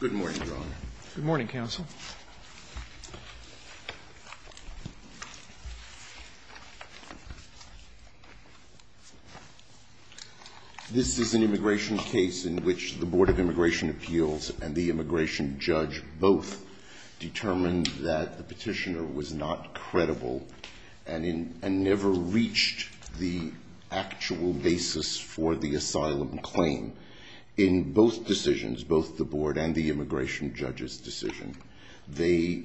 Good morning, John. Good morning, counsel. This is an immigration case in which the Board of Immigration Appeals and the immigration judge both determined that the petitioner was not credible and never reached the actual basis for the asylum claim. In both decisions, both the board and the immigration judge's decision, they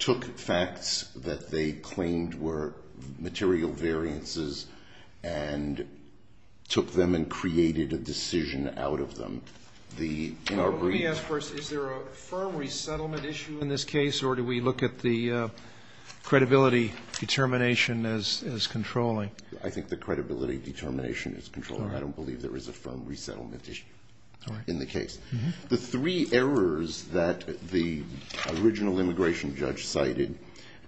took facts that they claimed were material variances and took them and created a decision out of them. Let me ask first, is there a firm resettlement issue in this case or do we look at the credibility determination as controlling? I think the credibility determination is controlling. I don't believe there is a firm resettlement issue in the case. The three errors that the original immigration judge cited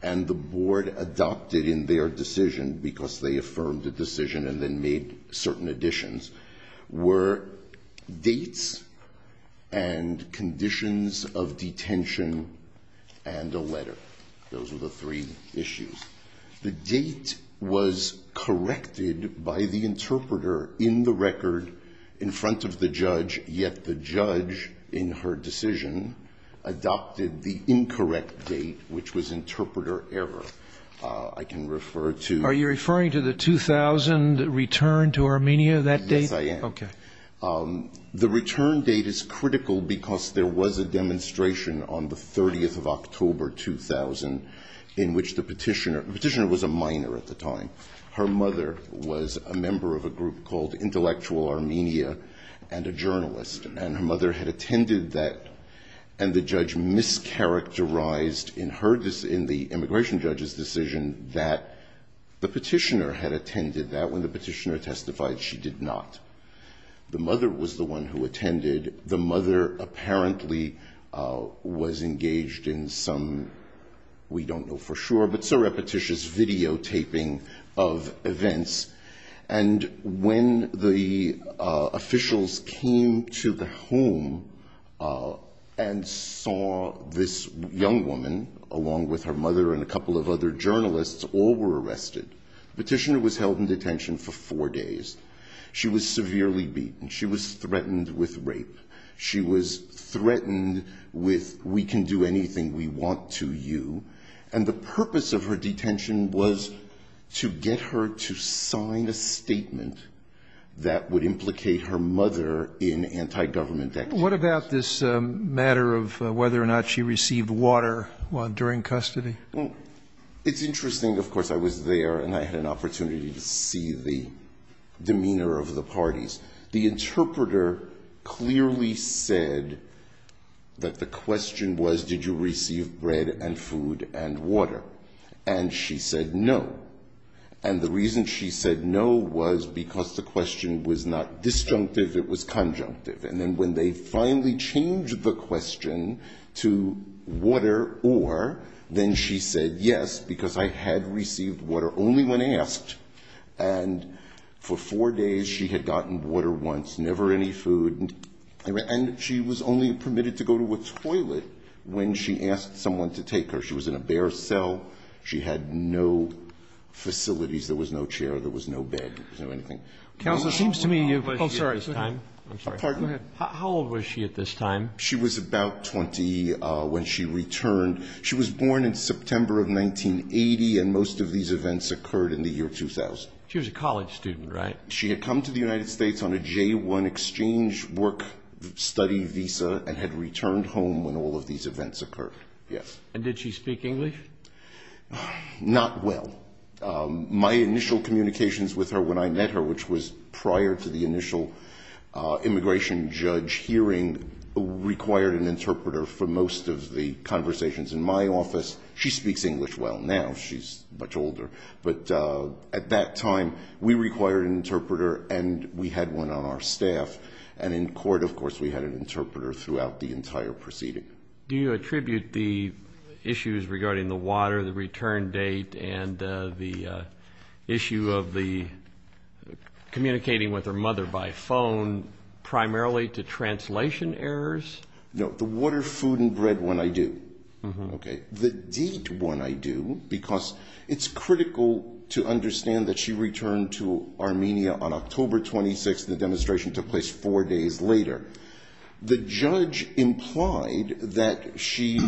and the board adopted in their decision because they affirmed the decision and then made certain additions were dates and conditions of detention and a letter. Those were the three issues. The date was corrected by the interpreter in the record in front of the judge, yet the judge in her decision adopted the incorrect date, which was interpreter error. Are you referring to the 2000 return to Armenia, that date? Yes, I am. Okay. The return date is critical because there was a demonstration on the 30th of October 2000 in which the petitioner was a minor at the time. Her mother was a member of a group called Intellectual Armenia and a journalist. And her mother had attended that. And the judge mischaracterized in the immigration judge's decision that the petitioner had attended that. When the petitioner testified, she did not. The mother was the one who attended. The mother apparently was engaged in some, we don't know for sure, but so repetitious videotaping of events. And when the officials came to the home and saw this young woman, along with her mother and a couple of other journalists, all were arrested, the petitioner was held in detention for four days. She was severely beaten. She was threatened with rape. She was threatened with we can do anything we want to you. And the purpose of her detention was to get her to sign a statement that would implicate her mother in anti-government actions. What about this matter of whether or not she received water during custody? Well, it's interesting. Of course, I was there and I had an opportunity to see the demeanor of the parties. The interpreter clearly said that the question was did you receive bread and food and water. And she said no. And the reason she said no was because the question was not disjunctive, it was conjunctive. And then when they finally changed the question to water or, then she said yes, because I had received water only when asked. And for four days she had gotten water once, never any food. And she was only permitted to go to a toilet when she asked someone to take her. She was in a bare cell. She had no facilities. There was no chair. There was no bed. There was no anything. Counsel, it seems to me you've been here at this time. I'm sorry. Go ahead. How old was she at this time? She was about 20 when she returned. She was born in September of 1980, and most of these events occurred in the year 2000. She was a college student, right? She had come to the United States on a J-1 exchange work study visa and had returned home when all of these events occurred. Yes. And did she speak English? Not well. My initial communications with her when I met her, which was prior to the initial immigration judge hearing, required an interpreter for most of the conversations in my office. She speaks English well now. She's much older. But at that time we required an interpreter, and we had one on our staff. And in court, of course, we had an interpreter throughout the entire proceeding. Do you attribute the issues regarding the water, the return date, and the issue of the communicating with her mother by phone primarily to translation errors? No. The water, food, and bread one I do. Okay. The date one I do because it's critical to understand that she returned to Armenia on October 26th, and the demonstration took place four days later. The judge implied that she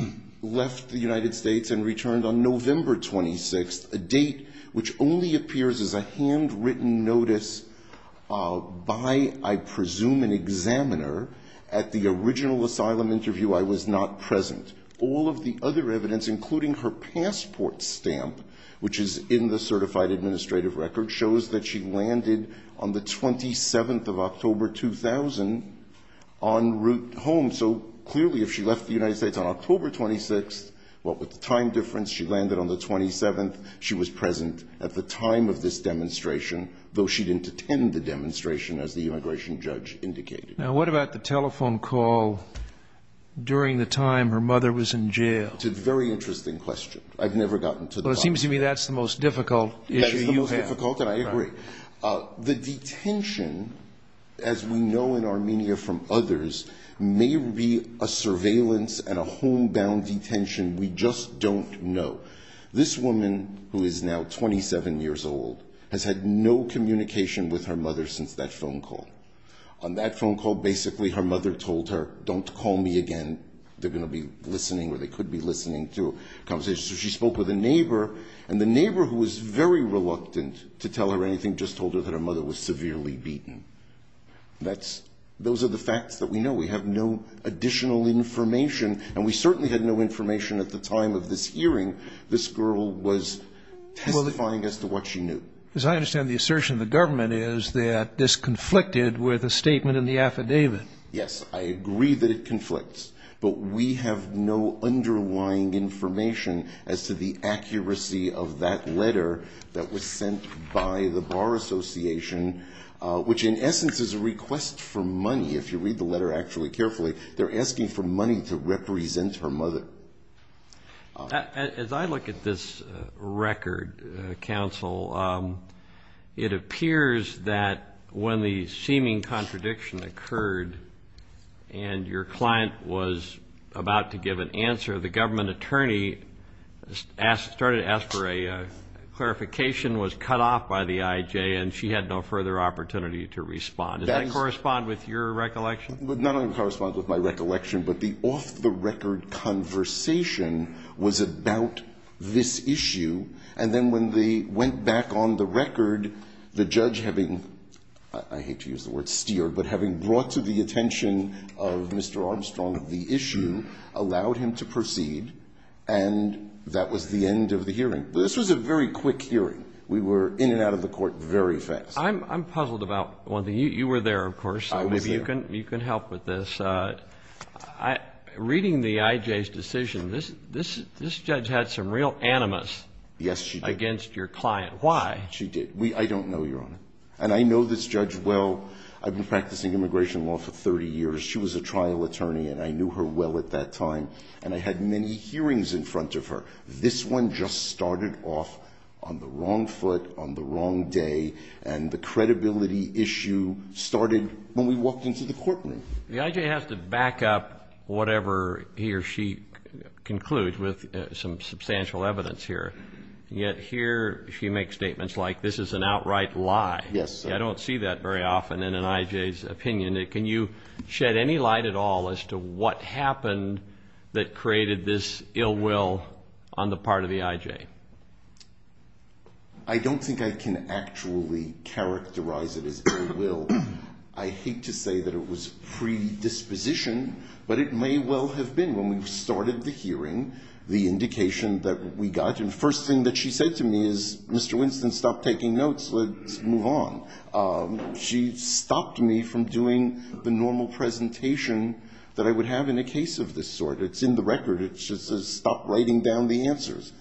left the United States and returned on November 26th, a date which only appears as a handwritten notice by, I presume, an examiner at the original asylum interview. I was not present. All of the other evidence, including her passport stamp, which is in the certified administrative record, shows that she landed on the 27th of October, 2000, en route home. So clearly if she left the United States on October 26th, what with the time difference, she landed on the 27th, she was present at the time of this demonstration, though she didn't attend the demonstration, as the immigration judge indicated. Now what about the telephone call during the time her mother was in jail? It's a very interesting question. I've never gotten to the bottom of it. Well, it seems to me that's the most difficult issue you have. It's the most difficult, and I agree. The detention, as we know in Armenia from others, may be a surveillance and a homebound detention. We just don't know. This woman, who is now 27 years old, has had no communication with her mother since that phone call. On that phone call, basically her mother told her, don't call me again. They're going to be listening, or they could be listening to a conversation. So she spoke with a neighbor, and the neighbor, who was very reluctant to tell her anything, just told her that her mother was severely beaten. Those are the facts that we know. We have no additional information, and we certainly had no information at the time of this hearing. This girl was testifying as to what she knew. As I understand the assertion, the government is that this conflicted with a statement in the affidavit. Yes, I agree that it conflicts. But we have no underlying information as to the accuracy of that letter that was sent by the Bar Association, which in essence is a request for money, if you read the letter actually carefully. They're asking for money to represent her mother. As I look at this record, counsel, it appears that when the seeming contradiction occurred and your client was about to give an answer, the government attorney started to ask for a clarification, was cut off by the IJ, and she had no further opportunity to respond. Does that correspond with your recollection? It not only corresponds with my recollection, but the off-the-record conversation was about this issue. And then when they went back on the record, the judge having, I hate to use the word steered, but having brought to the attention of Mr. Armstrong the issue, allowed him to proceed, and that was the end of the hearing. This was a very quick hearing. We were in and out of the court very fast. I'm puzzled about one thing. You were there, of course. I was there. You can help with this. Reading the IJ's decision, this judge had some real animus against your client. Why? She did. I don't know, Your Honor. And I know this judge well. I've been practicing immigration law for 30 years. She was a trial attorney, and I knew her well at that time, and I had many hearings in front of her. This one just started off on the wrong foot, on the wrong day, and the credibility issue started when we walked into the courtroom. The IJ has to back up whatever he or she concludes with some substantial evidence here. Yet here she makes statements like this is an outright lie. Yes, sir. I don't see that very often in an IJ's opinion. Can you shed any light at all as to what happened that created this ill will on the part of the IJ? I don't think I can actually characterize it as ill will. I hate to say that it was predisposition, but it may well have been. When we started the hearing, the indication that we got, and the first thing that she said to me is, Mr. Winston, stop taking notes, let's move on. She stopped me from doing the normal presentation that I would have in a case of this sort. It's in the record. It just says stop writing down the answers.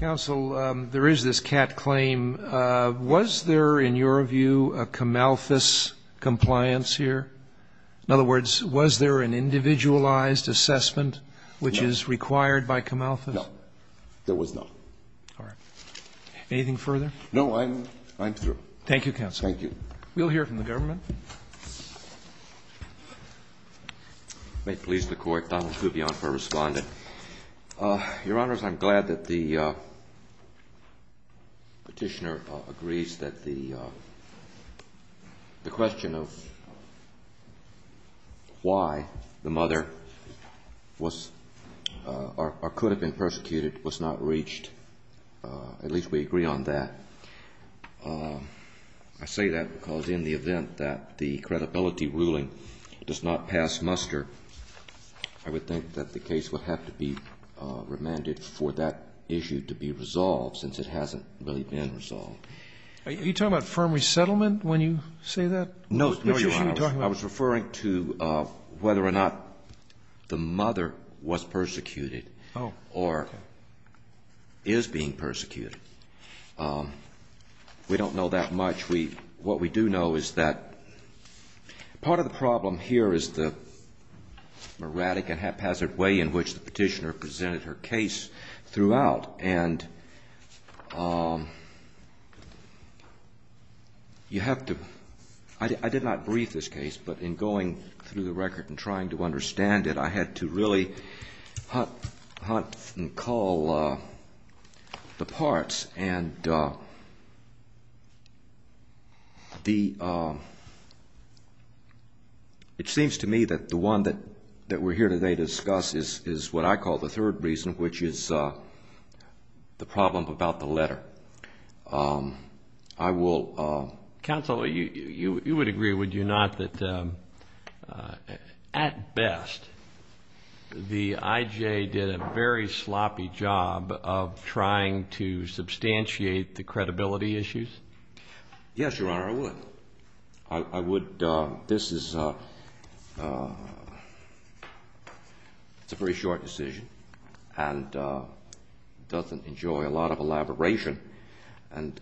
Counsel, there is this cat claim. Was there, in your view, a Camalthus compliance here? In other words, was there an individualized assessment which is required by Camalthus? No, there was not. All right. Anything further? No, I'm through. Thank you, Counsel. Thank you. We'll hear from the government. May it please the Court, Donald Kubion for responding. Your Honors, I'm glad that the petitioner agrees that the question of why the mother was or could have been persecuted was not reached. At least we agree on that. I say that because in the event that the credibility ruling does not pass muster, I would think that the case would have to be remanded for that issue to be resolved, since it hasn't really been resolved. Are you talking about firm resettlement when you say that? No, Your Honors. I was referring to whether or not the mother was persecuted or is being persecuted. We don't know that much. What we do know is that part of the problem here is the erratic and haphazard way in which the petitioner presented her case throughout, and you have to... I did not brief this case, but in going through the record and trying to understand it, I had to really hunt and call the parts. It seems to me that the one that we're here today to discuss is what I call the third reason, which is the problem about the letter. Counsel, you would agree, would you not, that at best the IJ did a very sloppy job of trying to substantiate the credibility issues? Yes, Your Honor, I would. This is a very short decision and doesn't enjoy a lot of elaboration. And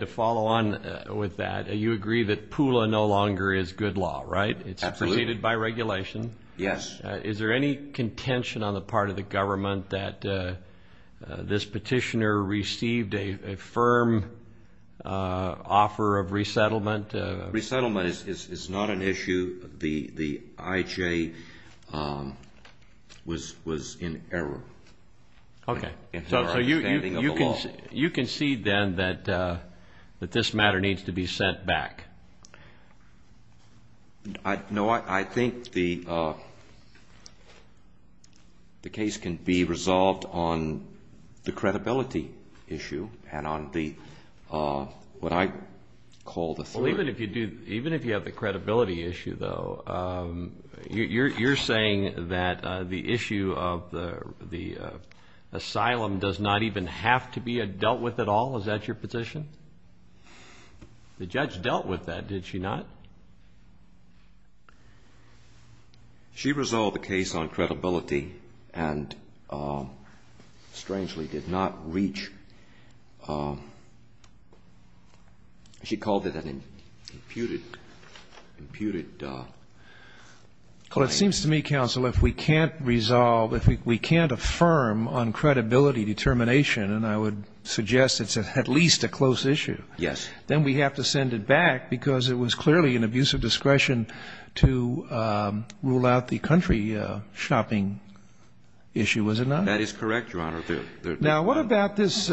to follow on with that, you agree that PULA no longer is good law, right? Absolutely. It's superseded by regulation. Yes. Is there any contention on the part of the government that this petitioner received a firm offer of resettlement? Resettlement is not an issue. The IJ was in error in her understanding of the law. Okay. So you concede then that this matter needs to be sent back? No, I think the case can be resolved on the credibility issue and on what I call the third. Even if you have the credibility issue, though, you're saying that the issue of the asylum does not even have to be dealt with at all? Is that your position? The judge dealt with that, did she not? She resolved the case on credibility and, strangely, did not reach. She called it an imputed claim. Well, it seems to me, counsel, if we can't resolve, if we can't affirm on credibility determination, and I would suggest it's at least a close issue, then we have to send it back, because it was clearly an abuse of discretion to rule out the country shopping issue, was it not? That is correct, Your Honor. Now, what about this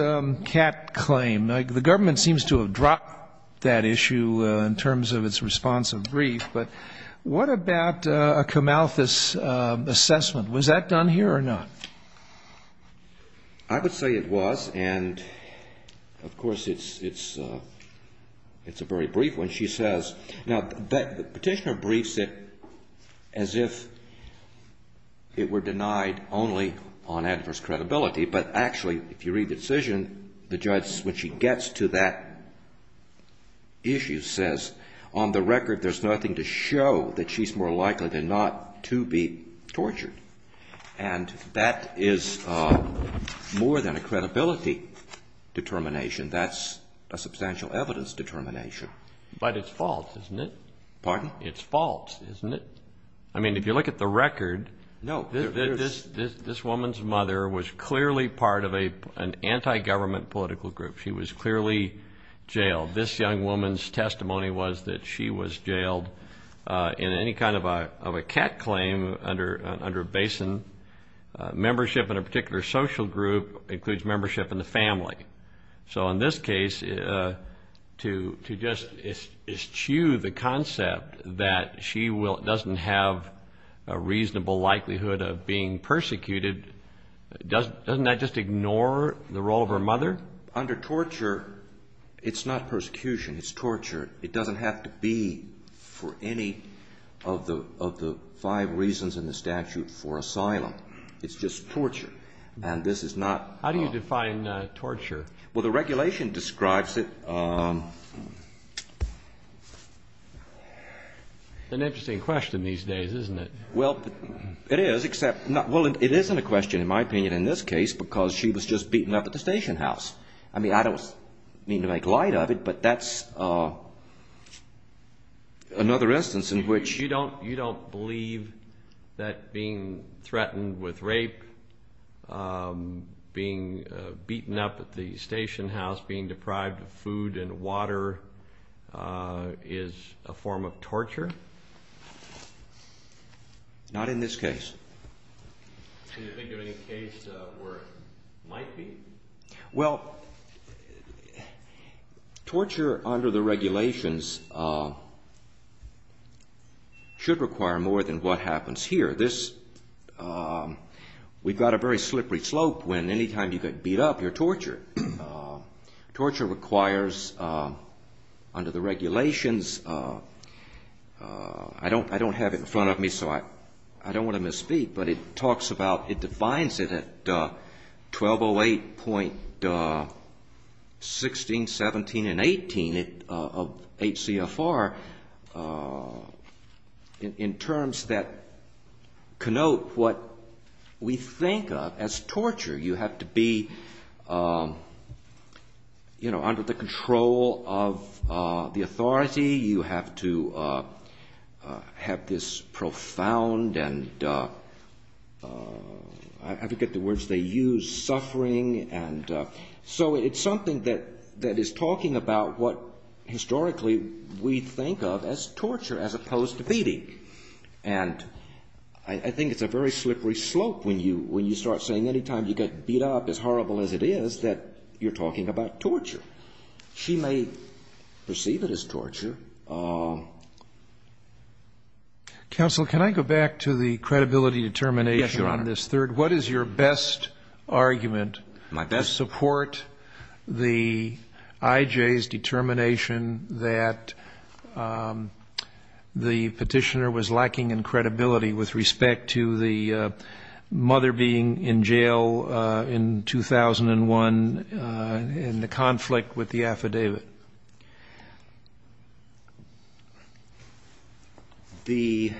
cat claim? The government seems to have dropped that issue in terms of its response of grief, but what about a Camalthus assessment? Was that done here or not? I would say it was, and, of course, it's a very brief one. She says, now, the petitioner briefs it as if it were denied only on adverse credibility, but actually, if you read the decision, the judge, when she gets to that issue, says on the record there's nothing to show that she's more likely than not to be tortured, and that is more than a credibility determination. That's a substantial evidence determination. But it's false, isn't it? Pardon? It's false, isn't it? I mean, if you look at the record, this woman's mother was clearly part of an anti-government political group. She was clearly jailed. This young woman's testimony was that she was jailed in any kind of a cat claim under BASIN. Membership in a particular social group includes membership in the family. So in this case, to just eschew the concept that she doesn't have a reasonable likelihood of being persecuted, doesn't that just ignore the role of her mother? Under torture, it's not persecution. It's torture. It doesn't have to be for any of the five reasons in the statute for asylum. It's just torture, and this is not – How do you define torture? Well, the regulation describes it – An interesting question these days, isn't it? Well, it is, except – well, it isn't a question, in my opinion, in this case, because she was just beaten up at the station house. I mean, I don't mean to make light of it, but that's another instance in which – being beaten up at the station house, being deprived of food and water is a form of torture? Not in this case. Can you think of any case where it might be? Well, torture under the regulations should require more than what happens here. This – we've got a very slippery slope when any time you get beat up, you're tortured. Torture requires, under the regulations – I don't have it in front of me, so I don't want to misspeak, but it talks about – 16, 17, and 18 of 8 CFR in terms that connote what we think of as torture. You have to be under the control of the authority. You have to have this profound and – So it's something that is talking about what historically we think of as torture as opposed to beating. And I think it's a very slippery slope when you start saying any time you get beat up, as horrible as it is, that you're talking about torture. She may perceive it as torture. Counsel, can I go back to the credibility determination on this third? Yes, Your Honor. What is your best argument to support the IJ's determination that the petitioner was lacking in credibility with respect to the mother being in jail in 2001 in the conflict with the affidavit? The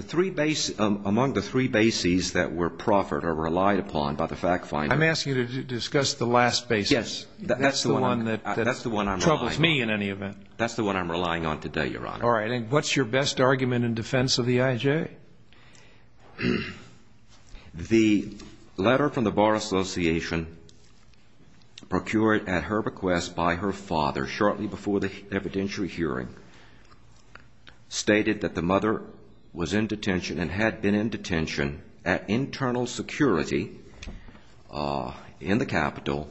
three – among the three bases that were proffered or relied upon by the fact finder – I'm asking you to discuss the last basis. Yes. That's the one that troubles me in any event. That's the one I'm relying on. That's the one I'm relying on today, Your Honor. All right. And what's your best argument in defense of the IJ? The letter from the Bar Association procured at her request by her father shortly before the evidentiary hearing stated that the mother was in detention and had been in detention at internal security in the capital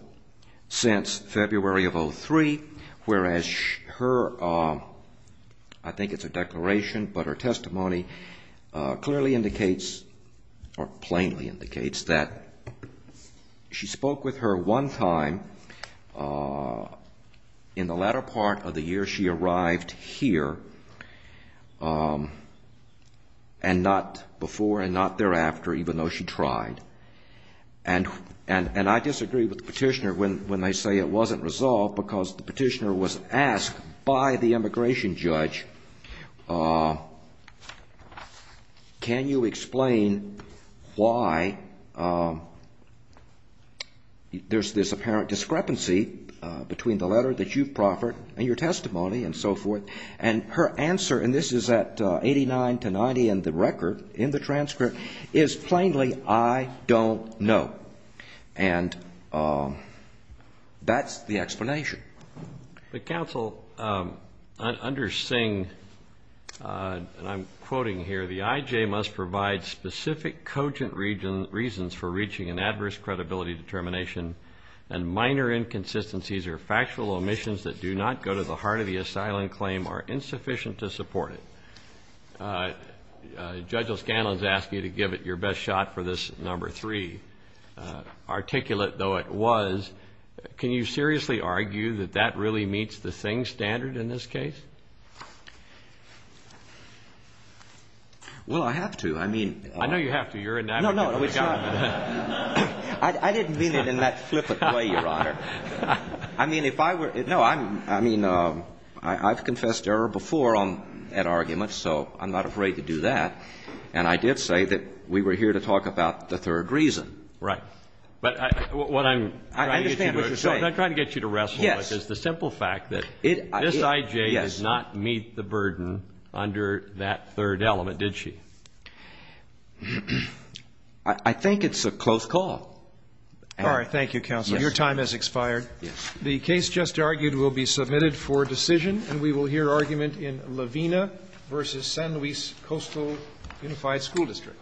since February of 2003, whereas her – I think it's a declaration, but her testimony – clearly indicates or plainly indicates that she spoke with her one time in the latter part of the year she arrived here and not before and not thereafter, even though she tried. And I disagree with the petitioner when they say it wasn't resolved because the petitioner was asked by the immigration judge, can you explain why there's this apparent discrepancy between the letter that you've proffered and your testimony and so forth? And her answer – and this is at 89 to 90 in the record, in the transcript – is plainly, I don't know. And that's the explanation. But, Counsel, under Singh – and I'm quoting here – the IJ must provide specific cogent reasons for reaching an adverse credibility determination and minor inconsistencies or factual omissions that do not go to the heart of the asylum claim are insufficient to support it. Judge O'Scanlan has asked you to give it your best shot for this number three. Articulate, though it was, can you seriously argue that that really meets the Singh standard in this case? Well, I have to. I mean – I know you have to. You're an advocate of the government. No, no. I didn't mean it in that flippant way, Your Honor. I mean, if I were – no, I mean, I've confessed error before on that argument. So I'm not afraid to do that. And I did say that we were here to talk about the third reason. Right. But what I'm trying to get you to – I understand what you're saying. What I'm trying to get you to wrestle with is the simple fact that this IJ does not meet the burden under that third element, did she? I think it's a close call. All right. Thank you, Counsel. Your time has expired. Yes. The case just argued will be submitted for decision, and we will hear argument in Lavina v. San Luis Coastal Unified School District.